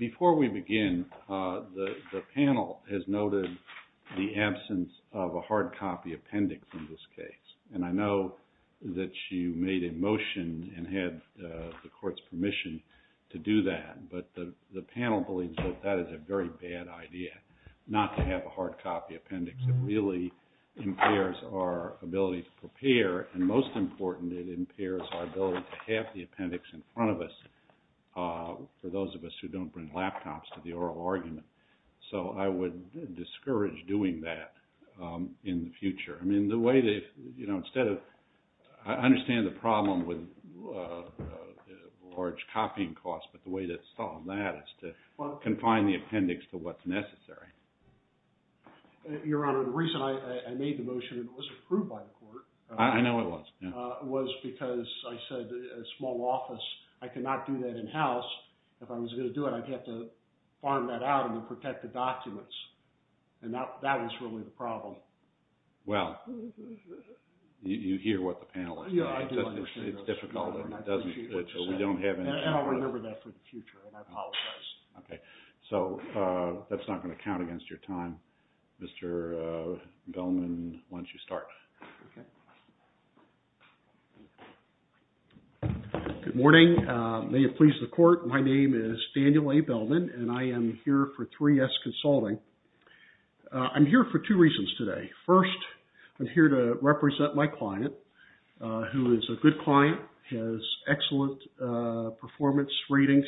Before we begin, the panel has noted the absence of a hard copy appendix in this case, and I know that you made a motion and had the court's permission to do that, but the panel believes that that is a very bad idea, not to have a hard copy appendix. It really impairs our ability to prepare, and most important, it impairs our ability to have the appendix in front of us for those of us who don't bring laptops to the oral argument. So I would discourage doing that in the future. I mean, the way that, you know, instead of, I understand the confine the appendix to what's necessary. Your Honor, the reason I made the motion and it was approved by the court I know it was. Was because I said a small office, I cannot do that in-house. If I was going to do it, I'd have to farm that out and protect the documents, and that was really the problem. Well, you hear what the panel is saying. Yeah, I do. It's difficult, and it doesn't, we don't have any... And I'll remember that for the future, and I apologize. Okay. So, that's not going to count against your time. Mr. Bellman, why don't you start. Okay. Good morning. May it please the court, my name is Daniel A. Bellman, and I am here for 3S Consulting. I'm here for two reasons today. First, I'm here to represent my client, who is a good client, has excellent performance readings,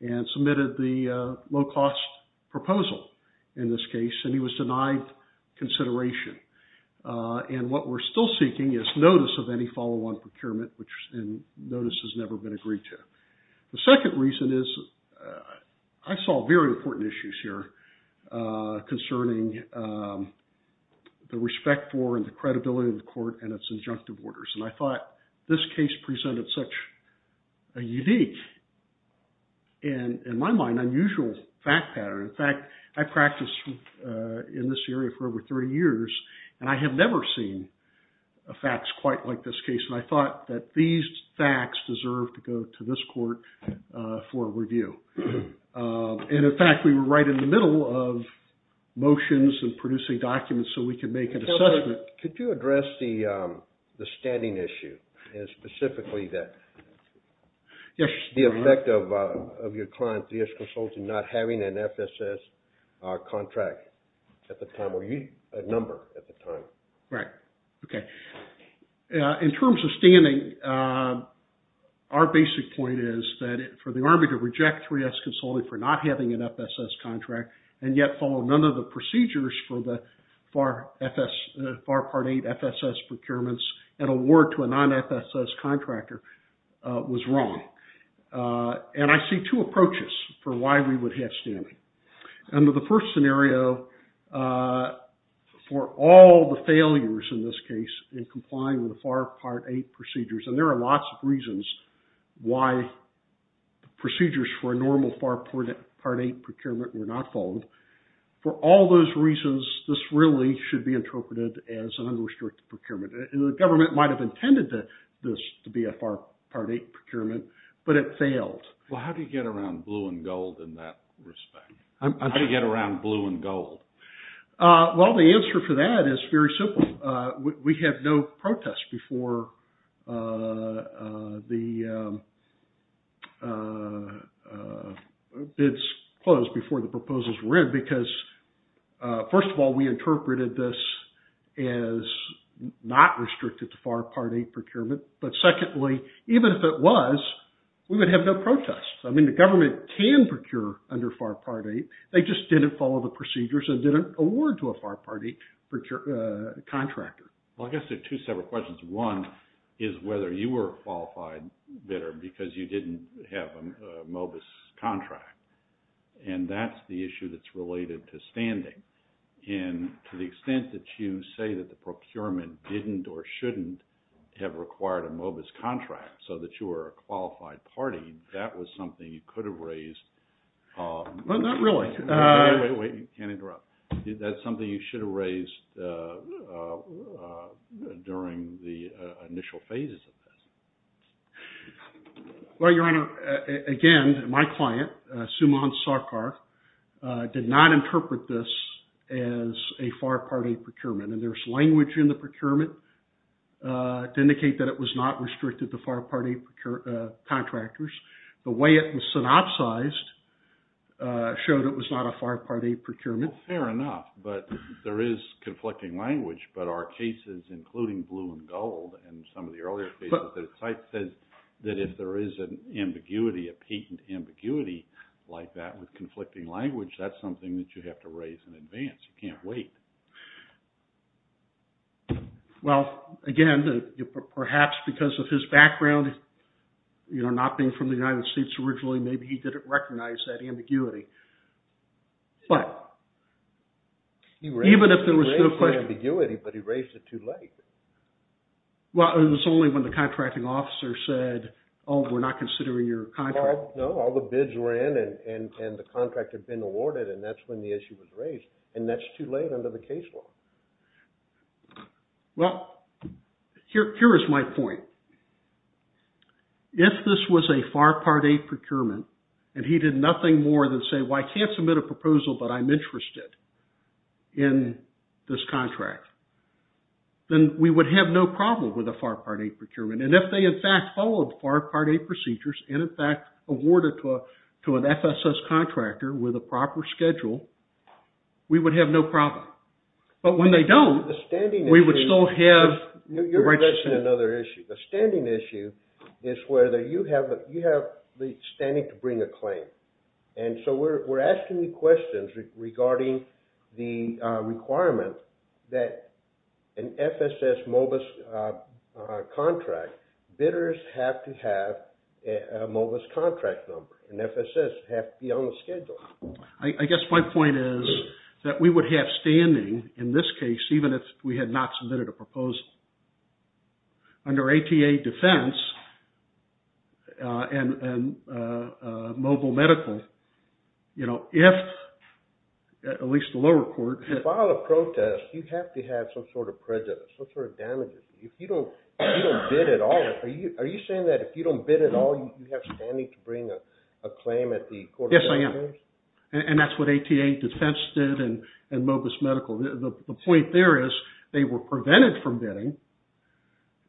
and submitted the low-cost proposal in this case, and he was denied consideration. And what we're still seeking is notice of any follow-on procurement, which notice has never been agreed to. The second reason is, I saw very important issues here concerning the respect for and the credibility of the court and its injunctive orders, and I thought this case presented such a unique, and in my mind, unusual fact pattern. In fact, I practiced in this area for over 30 years, and I have never seen facts quite like this case, and I thought that these facts deserve to go to this court for review. And in fact, we were right in the middle of motions and producing documents, so we could make an assessment. Could you address the standing issue, and specifically that the effect of your client, 3S Consulting, not having an FSS contract at the time, or a number at the time. Right. Okay. In terms of standing, our basic point is that for the Army to reject 3S Consulting for not having an FSS contract, and yet follow none of the procedures for the FAR Part 8 FSS procurements, and award to a non-FSS contractor, was wrong. And I see two approaches for why we would have standing. Under the first scenario, for all the failures in this case, in complying with the FAR Part 8 procedures, and there are lots of reasons why procedures for a normal FAR Part 8 procurement were not followed, for all those reasons, this really should be interpreted as an unrestricted procurement. The government might have intended this to be a FAR Part 8 procurement, but it failed. Well, how do you get around blue and gold in that respect? How do you get around blue and gold? Well, the answer for that is very simple. We had no protests before the bids closed, before the proposals were in, because, first of all, we interpreted this as not restricted to FAR Part 8 procurement, but secondly, even if it was, we would have no protests. I mean, the government can procure under FAR Part 8. They just didn't follow the procedures and didn't award to a FAR Part 8 contractor. Well, I guess there are two separate questions. One is whether you were a qualified bidder because you didn't have a MOBIS contract. And that's the issue that's related to standing. And to the extent that you say that the procurement didn't or shouldn't have required a MOBIS contract so that you were a qualified party, that was something you could have raised. Well, not really. Wait, wait, wait. You can't interrupt. That's something you should have raised during the initial phases of this. Well, Your Honor, again, my client, Sumon Sarkar, did not interpret this as a FAR Part 8 procurement. And there's language in the procurement to indicate that it was not restricted to FAR Part 8 contractors. The way it was synopsized showed it was not a FAR Part 8 procurement. Well, fair enough. But there is conflicting language. But our cases, including Blue and Gold and some of the earlier cases, the site says that if there is an ambiguity, a patent ambiguity like that with conflicting language, that's something that you have to raise in advance. You can't wait. Well, again, perhaps because of his background, not being from the United States originally, maybe he didn't recognize that ambiguity. He raised the ambiguity, but he raised it too late. Well, it was only when the contracting officer said, oh, we're not considering your contract. No, all the bids were in and the contract had been awarded and that's when the issue was raised. And that's too late under the case law. Well, here is my point. If this was a FAR Part 8 procurement and he did nothing more than say, well, I can't submit a proposal, but I'm interested in this contract, then we would have no problem with a FAR Part 8 procurement. And if they, in fact, followed FAR Part 8 procedures and, in fact, awarded to an FSS contractor with a proper schedule, we would have no problem. But when they don't, we would still have the right to submit. You're addressing another issue. The standing issue is whether you have the standing to bring a claim. And so we're asking you questions regarding the requirement that an FSS MOBIS contract, bidders have to have a MOBIS contract number. An FSS has to be on the schedule. I guess my point is that we would have standing in this case, even if we had not submitted a proposal. Under ATA defense and mobile medical, you know, if at least the lower court... If you file a protest, you have to have some sort of prejudice, some sort of damages. If you don't bid at all, are you saying that if you don't bid at all, you have standing to bring a claim at the court of damages? Yes, I am. And that's what ATA defense did and MOBIS medical. The point there is they were prevented from bidding,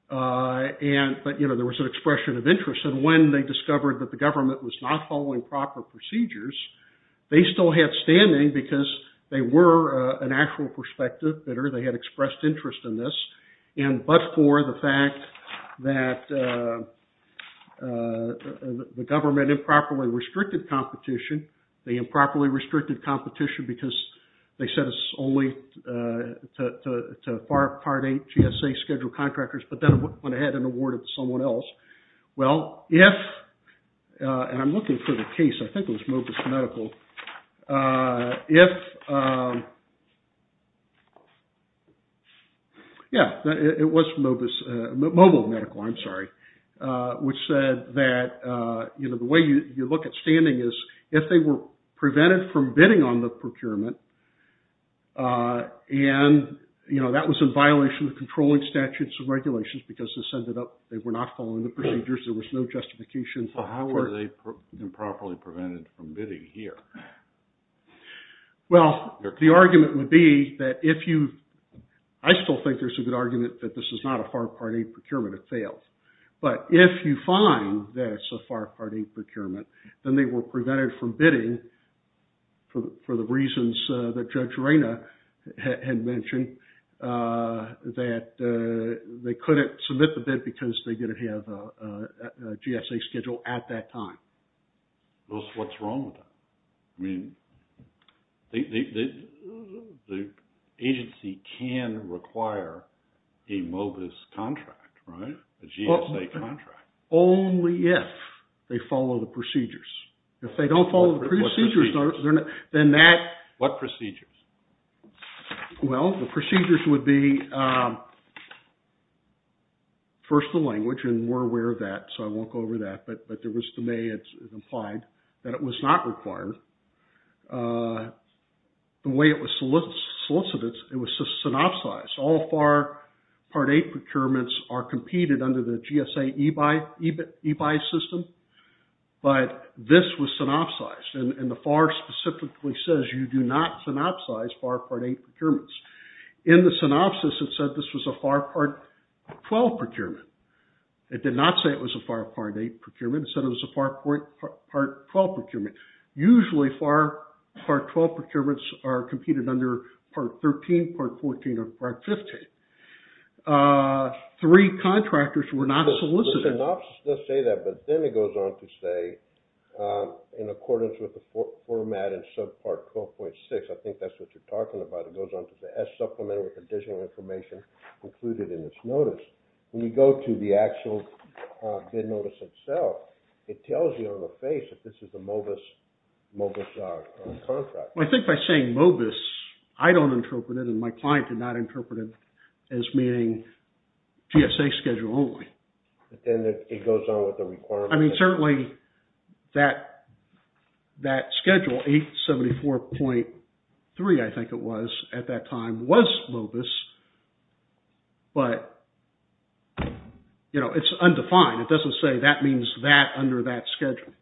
but, you know, there was an expression of interest. And when they discovered that the government was not following proper procedures, they still had standing because they were an actual prospective bidder. They had expressed interest in this, but for the fact that the government improperly restricted competition. They improperly restricted competition because they said it's only to part A GSA scheduled contractors, but then it went ahead and awarded to someone else. Well, if, and I'm looking for the case, I think it was MOBIS medical. If, yeah, it was MOBIS, mobile medical, I'm sorry, which said that, you know, the way you look at standing is if they were prevented from bidding on the procurement and, you know, that was in violation of controlling statutes and regulations because this ended up, they were not following the procedures, there was no justification. Well, how were they improperly prevented from bidding here? Well, the argument would be that if you, I still think there's a good argument that this is not a far part A procurement, it failed, but if you find that it's a far part A procurement, then they were prevented from bidding for the reasons that Judge Reyna had mentioned, that they couldn't submit the bid because they didn't have a GSA schedule at that time. Well, what's wrong with that? I mean, the agency can require a MOBIS contract, right, a GSA contract. Only if they follow the procedures. If they don't follow the procedures, then that... What procedures? Well, the procedures would be first the language, and we're aware of that, so I won't go over that, but there was to me it's implied that it was not required. The way it was solicited, it was synopsized. All far part A procurements are competed under the GSA eBuy system, but this was synopsized, and the FAR specifically says you do not synopsize far part A procurements. In the synopsis, it said this was a far part 12 procurement. It did not say it was a far part A procurement. It said it was a far part 12 procurement. Usually, far part 12 procurements are competed under part 13, part 14, or part 15. Three contractors were not solicited. The synopsis does say that, but then it goes on to say in accordance with the format and sub part 12.6, I think that's what you're talking about, it goes on to the S supplement with additional information included in this notice. When you go to the actual bid notice itself, it tells you on the face that this is a MOBIS contract. I think by saying MOBIS, I don't interpret it, and my client did not interpret it as being GSA schedule only. It goes on with the requirement. Certainly, that schedule, 874.3, I think it was at that time, was MOBIS, but it's undefined. It doesn't say that means that under that schedule.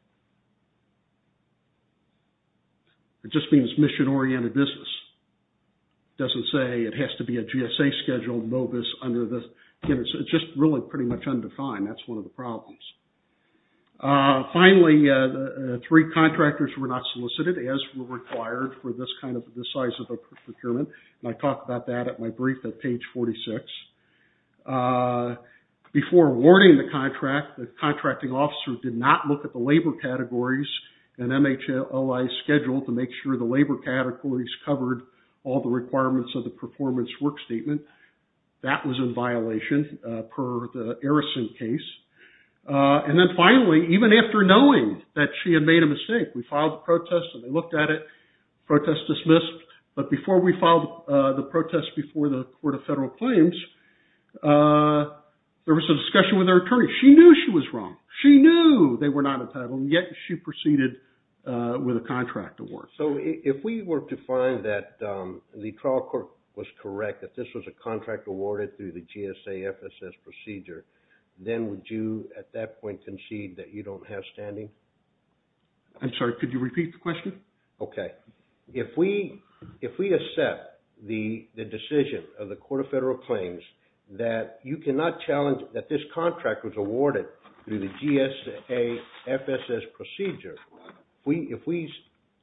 It just means mission-oriented business. It doesn't say it has to be a GSA schedule MOBIS under this. It's just really pretty much undefined. That's one of the problems. Finally, three contractors were not solicited as were required for this size of a procurement. I talked about that at my brief at page 46. Before awarding the contract, the contracting officer did not look at the labor categories and MHOI schedule to make sure the labor categories covered all the requirements of the performance work statement. That was in violation per the Arison case. Then finally, even after knowing that she had made a mistake, we filed a protest and they looked at it, protest dismissed. But before we filed the protest before the Court of Federal Claims, there was a discussion with our attorney. She knew she was wrong. She knew they were not entitled, yet she proceeded with a contract award. If we were to find that the trial court was correct, that this was a contract awarded through the GSA FSS procedure, then would you at that point concede that you don't have standing? I'm sorry, could you repeat the question? Okay. If we accept the decision of the Court of Federal Claims that you cannot challenge that this contract was awarded through the GSA FSS procedure, if we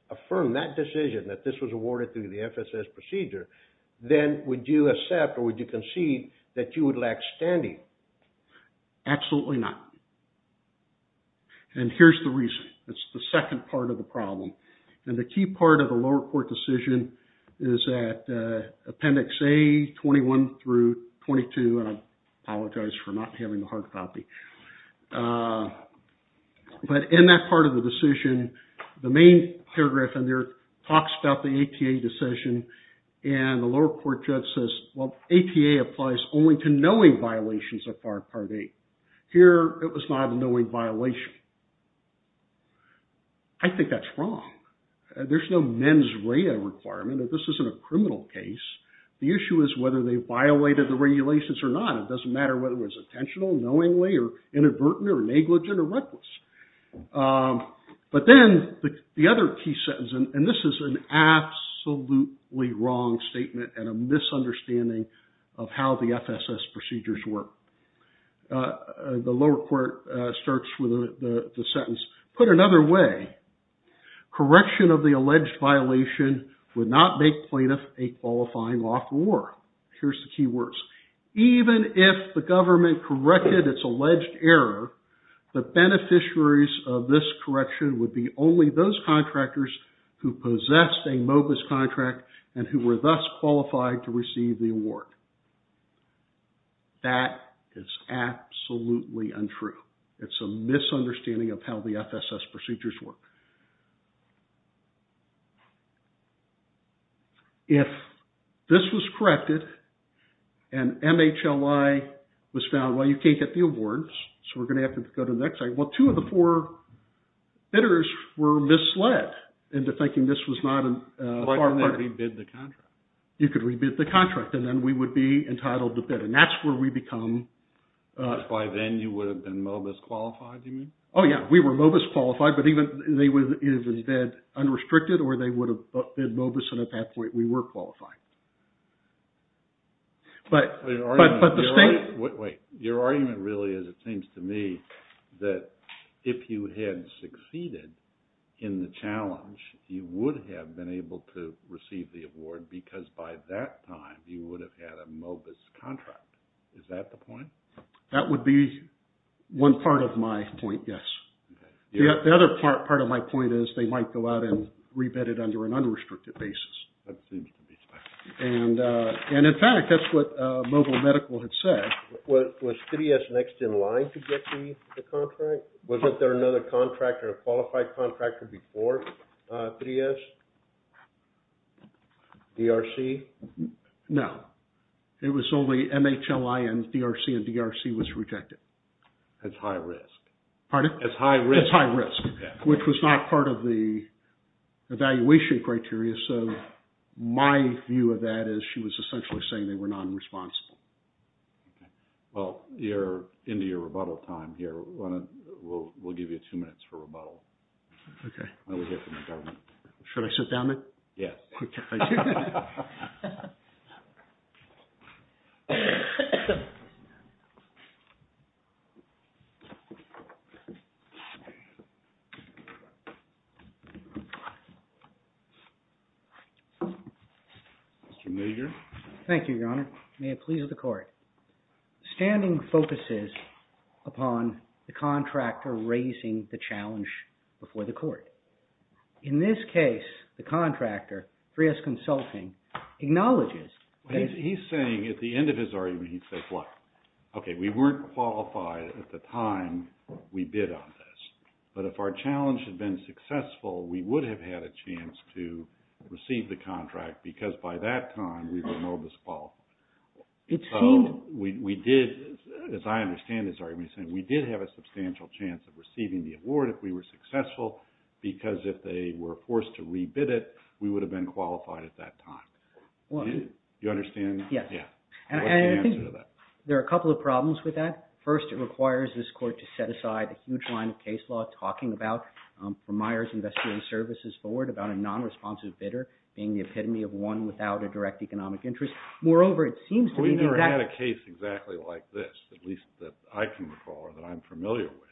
affirm that decision that this was awarded through the FSS procedure, then would you accept or would you concede that you would lack standing? Absolutely not. And here's the reason. It's the second part of the problem. And the key part of the lower court decision is at Appendix A, 21 through 22, and I apologize for not having the hard copy. But in that part of the decision, the main paragraph in there talks about the ATA decision, and the lower court judge says, well, ATA applies only to knowing violations of Part VIII. Here, it was not a knowing violation. I think that's wrong. There's no mens rea requirement. This isn't a criminal case. The issue is whether they violated the regulations or not. It doesn't matter whether it was intentional, knowingly, or inadvertent, or negligent, or reckless. But then the other key sentence, and this is an absolutely wrong statement and a misunderstanding of how the FSS procedures work. The lower court starts with the sentence, put another way, correction of the alleged violation would not make plaintiff a qualifying lawful award. Here's the key words. Even if the government corrected its alleged error, the beneficiaries of this correction would be only those contractors who possessed a MOBIS contract and who were thus qualified to receive the award. That is absolutely untrue. It's a misunderstanding of how the FSS procedures work. If this was corrected and MHLI was found, well, you can't get the awards, so we're going to have to go to the next slide. Well, two of the four bidders were misled into thinking this was not a... Why couldn't they re-bid the contract? You could re-bid the contract, and then we would be entitled to bid, and that's where we become... By then, you would have been MOBIS qualified, do you mean? Oh, yeah, we were MOBIS qualified, but either they bid unrestricted, or they would have bid MOBIS, and at that point, we were qualified. But the state... Wait, your argument really is, it seems to me, that if you had succeeded in the challenge, you would have been able to receive the award, because by that time, you would have had a MOBIS contract. Is that the point? That would be one part of my point, yes. The other part of my point is they might go out and re-bid it under an unrestricted basis. That seems to be the point. And in fact, that's what Mobile Medical had said. Was 3S next in line to get the contract? Was there another contractor, a qualified contractor before 3S? DRC? No. It was only MHLI and DRC, and DRC was rejected. That's high risk. Pardon? That's high risk. That's high risk, which was not part of the evaluation criteria, so my view of that is she was essentially saying they were non-responsible. Well, you're into your rebuttal time here. We'll give you two minutes for rebuttal. Okay. And we'll hear from the government. Should I sit down then? Yes. Okay, thank you. Mr. Major. Thank you, Your Honor. May it please the court. Standing focuses upon the contractor raising the challenge before the court. In this case, the contractor, 3S Consulting, acknowledges. He's saying at the end of his argument, he says what? Okay, we weren't qualified at the time we bid on this, but if our challenge had been successful, we would have had a chance to receive the contract because by that time, we were no disqualified. So we did, as I understand his argument, we did have a substantial chance of receiving the award if we were successful because if they were forced to re-bid it, we would have been qualified at that time. Do you understand that? Yes. And I think there are a couple of problems with that. First, it requires this court to set aside a huge line of case law talking about from Myers Investor and Services Board about a non-responsive bidder being the epitome of one without a direct economic interest. Moreover, it seems to be the exact... We've never had a case exactly like this, at least that I can recall or that I'm familiar with,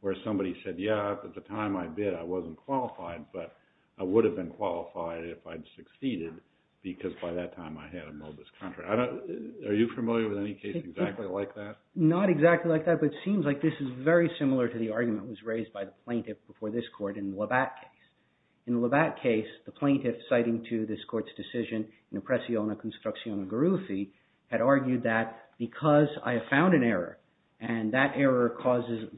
where somebody said, yeah, at the time I bid, I wasn't qualified, but I would have been qualified if I'd succeeded because by that time, I had a MOBIS contract. Are you familiar with any case exactly like that? Not exactly like that, but it seems like this is very similar to the argument that was raised by the plaintiff before this court in the Labatt case. In the Labatt case, the plaintiff, citing to this court's decision, in Oppressione Constituzione Garuffi, had argued that because I found an error and that error causes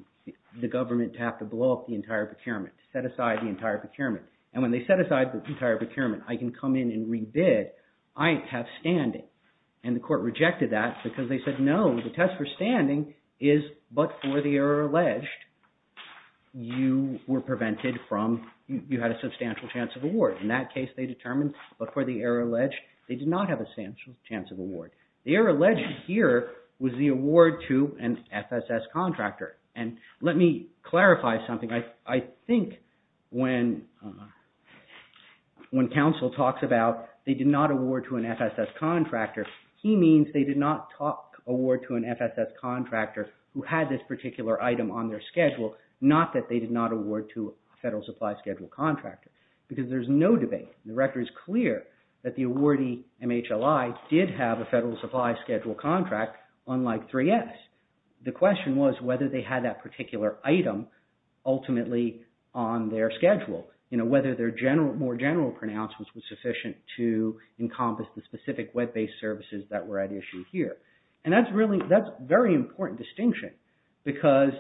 the government to have to blow up the entire procurement, set aside the entire procurement. And when they set aside the entire procurement, I can come in and re-bid. I have standing. And the court rejected that because they said, no, the test for standing is, but for the error alleged, you were prevented from... you had a substantial chance of award. In that case, they determined, but for the error alleged, they did not have a substantial chance of award. The error alleged here was the award to an FSS contractor. And let me clarify something. I think when counsel talks about they did not award to an FSS contractor, he means they did not award to an FSS contractor who had this particular item on their schedule, not that they did not award to a Federal Supply Schedule contractor because there's no debate. The record is clear that the awardee, MHLI, did have a Federal Supply Schedule contract, unlike 3S. The question was whether they had that particular item ultimately on their schedule, whether their more general pronouncements were sufficient to encompass the specific web-based services that were at issue here. And that's a very important distinction because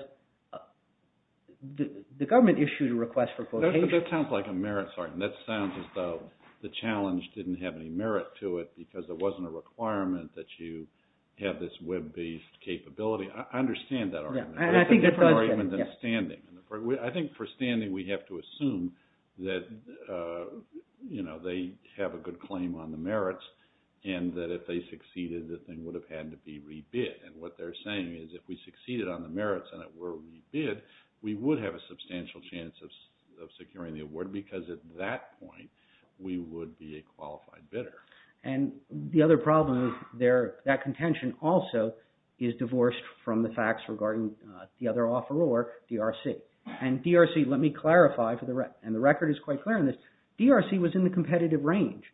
the government issued a request for quotation. That sounds like a merit, Sergeant. That sounds as though the challenge didn't have any merit to it because there wasn't a requirement that you have this web-based capability. I understand that argument. It's more argument than standing. I think for standing we have to assume that they have a good claim on the merits and that if they succeeded, the thing would have had to be re-bid. And what they're saying is if we succeeded on the merits and it were re-bid, we would have a substantial chance of securing the award because at that point we would be a qualified bidder. And the other problem with that contention also is divorced from the facts regarding the other offeror, DRC. And DRC, let me clarify, and the record is quite clear on this, DRC was in the competitive range.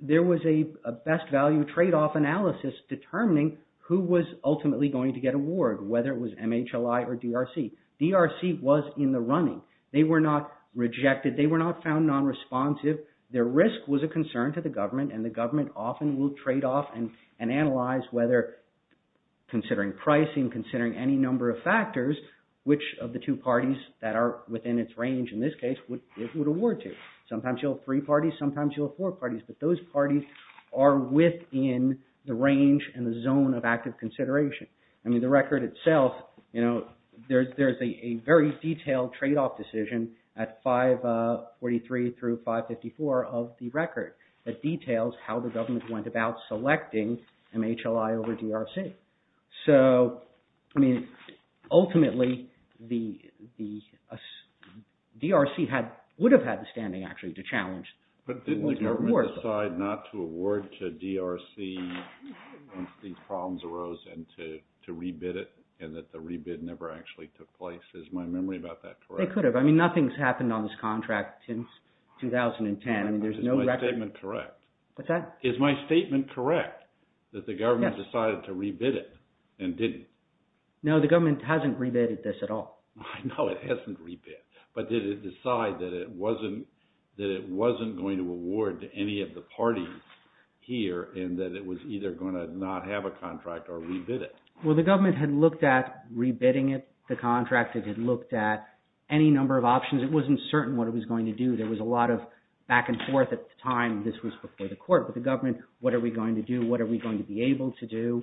There was a best value trade-off analysis determining who was ultimately going to get awarded, whether it was MHLI or DRC. DRC was in the running. They were not rejected. They were not found non-responsive. Their risk was a concern to the government and the government often will trade-off and analyze whether considering pricing, considering any number of factors, which of the two parties that are within its range, in this case, it would award to. Sometimes you'll have three parties, sometimes you'll have four parties, but those parties are within the range and the zone of active consideration. I mean the record itself, there's a very detailed trade-off decision at 543 through 554 of the record that details how the government went about selecting MHLI over DRC. So, I mean, ultimately, DRC would have had the standing actually to challenge. But didn't the government decide not to award to DRC once these problems arose and to re-bid it and that the re-bid never actually took place? Is my memory about that correct? They could have. I mean nothing's happened on this contract since 2010. I mean there's no record. Is my statement correct? What's that? Is my statement correct that the government decided to re-bid it and didn't? No, the government hasn't re-bidded this at all. I know it hasn't re-bid, but did it decide that it wasn't going to award to any of the parties here and that it was either going to not have a contract or re-bid it? Well, the government had looked at re-bidding it, the contract. It had looked at any number of options. It wasn't certain what it was going to do. There was a lot of back and forth at the time. This was before the court. But the government, what are we going to do? What are we going to be able to do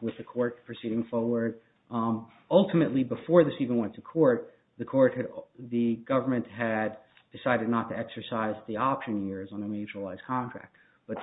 with the court proceeding forward? Ultimately, before this even went to court, the government had decided not to exercise the option years on a mutualized contract. But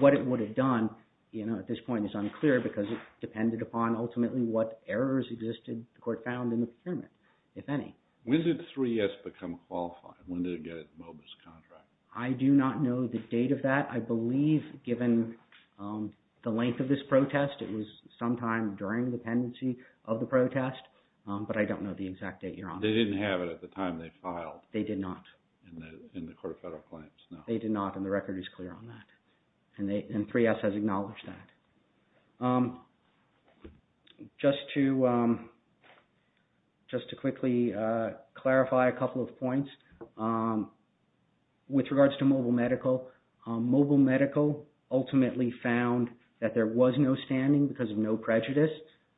what it would have done at this point is unclear because it depended upon ultimately what errors existed, the court found, in the pyramid, if any. When did 3S become qualified? When did it get its MOBIS contract? I do not know the date of that. I believe, given the length of this protest, it was sometime during the pendency of the protest. But I don't know the exact date, Your Honor. They didn't have it at the time they filed. They did not. In the court of federal claims, no. They did not, and the record is clear on that. And 3S has acknowledged that. Just to quickly clarify a couple of points. With regards to Mobile Medical, Mobile Medical ultimately found that there was no standing because of no prejudice.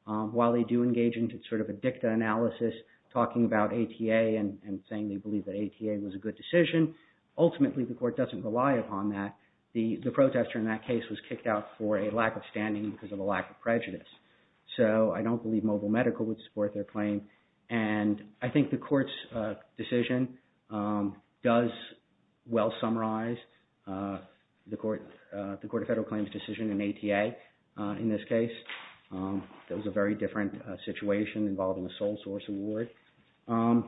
While they do engage in sort of a dicta analysis, talking about ATA and saying they believe that ATA was a good decision, ultimately the court doesn't rely upon that. The protester in that case was kicked out for a lack of standing because of a lack of prejudice. So I don't believe Mobile Medical would support their claim. And I think the court's decision does well summarize the court of federal claims decision in ATA in this case. That was a very different situation involving a sole source award. And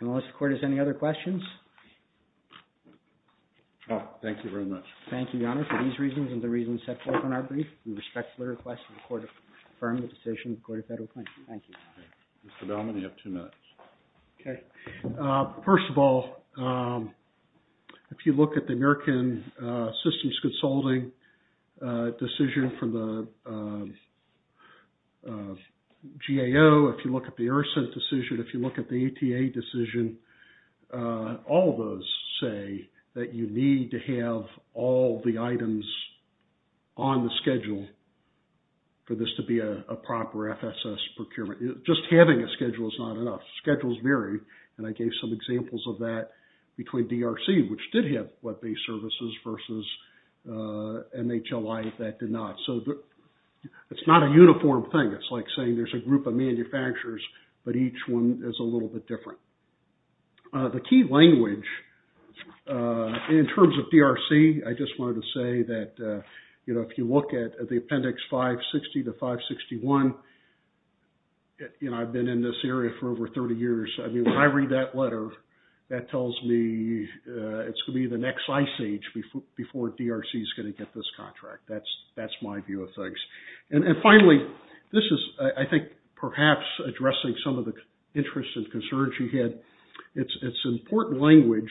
unless the court has any other questions? Thank you very much. Thank you, Your Honor, for these reasons and the reasons set forth in our brief. We respectfully request that the court confirm the decision of the court of federal claims. Thank you. Mr. Bellman, you have two minutes. Okay. First of all, if you look at the American Systems Consulting decision for the GAO, if you look at the ERSA decision, if you look at the ATA decision, all those say that you need to have all the items on the schedule for this to be a proper FSS procurement. Just having a schedule is not enough. Schedules vary, and I gave some examples of that between DRC, which did have web-based services, versus NHLI that did not. So it's not a uniform thing. It's like saying there's a group of manufacturers, but each one is a little bit different. The key language in terms of DRC, I just wanted to say that if you look at the Appendix 560 to 561, I've been in this area for over 30 years. I mean, when I read that letter, that tells me it's going to be the next ice age before DRC is going to get this contract. That's my view of things. And finally, this is, I think, perhaps addressing some of the interests and concerns you had. It's important language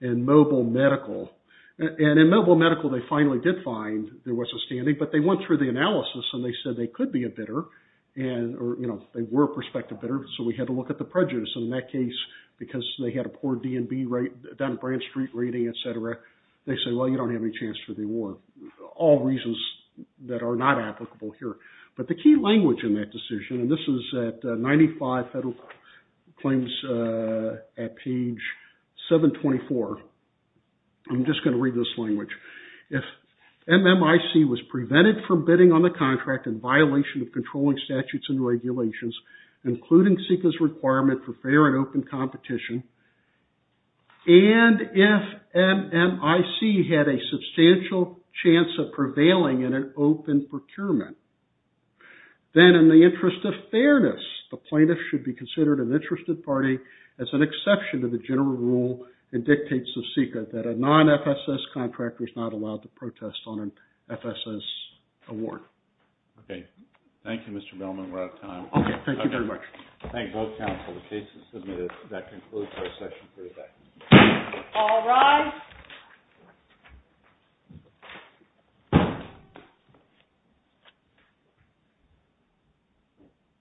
in mobile medical. And in mobile medical, they finally did find there was a standing, but they went through the analysis, and they said they could be a bidder, or they were a prospective bidder, so we had to look at the prejudice. And in that case, because they had a poor D&B rate, down-at-brand street rating, et cetera, they said, well, you don't have any chance for the award. All reasons that are not applicable here. But the key language in that decision, and this is at 95 Federal Claims at page 724. I'm just going to read this language. If MMIC was prevented from bidding on the contract in violation of controlling statutes and regulations, including SECA's requirement for fair and open competition, and if MMIC had a substantial chance of prevailing in an open procurement, then in the interest of fairness, the plaintiff should be considered an interested party as an exception to the general rule and dictates of SECA that a non-FSS contractor is not allowed to protest on an FSS award. Okay. Thank you, Mr. Bellman. We're out of time. Okay. Thank you very much. Thank you both, counsel. The case is submitted. That concludes our session for today. All rise.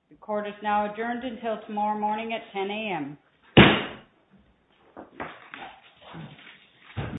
The court is now adjourned until tomorrow morning at 10 a.m.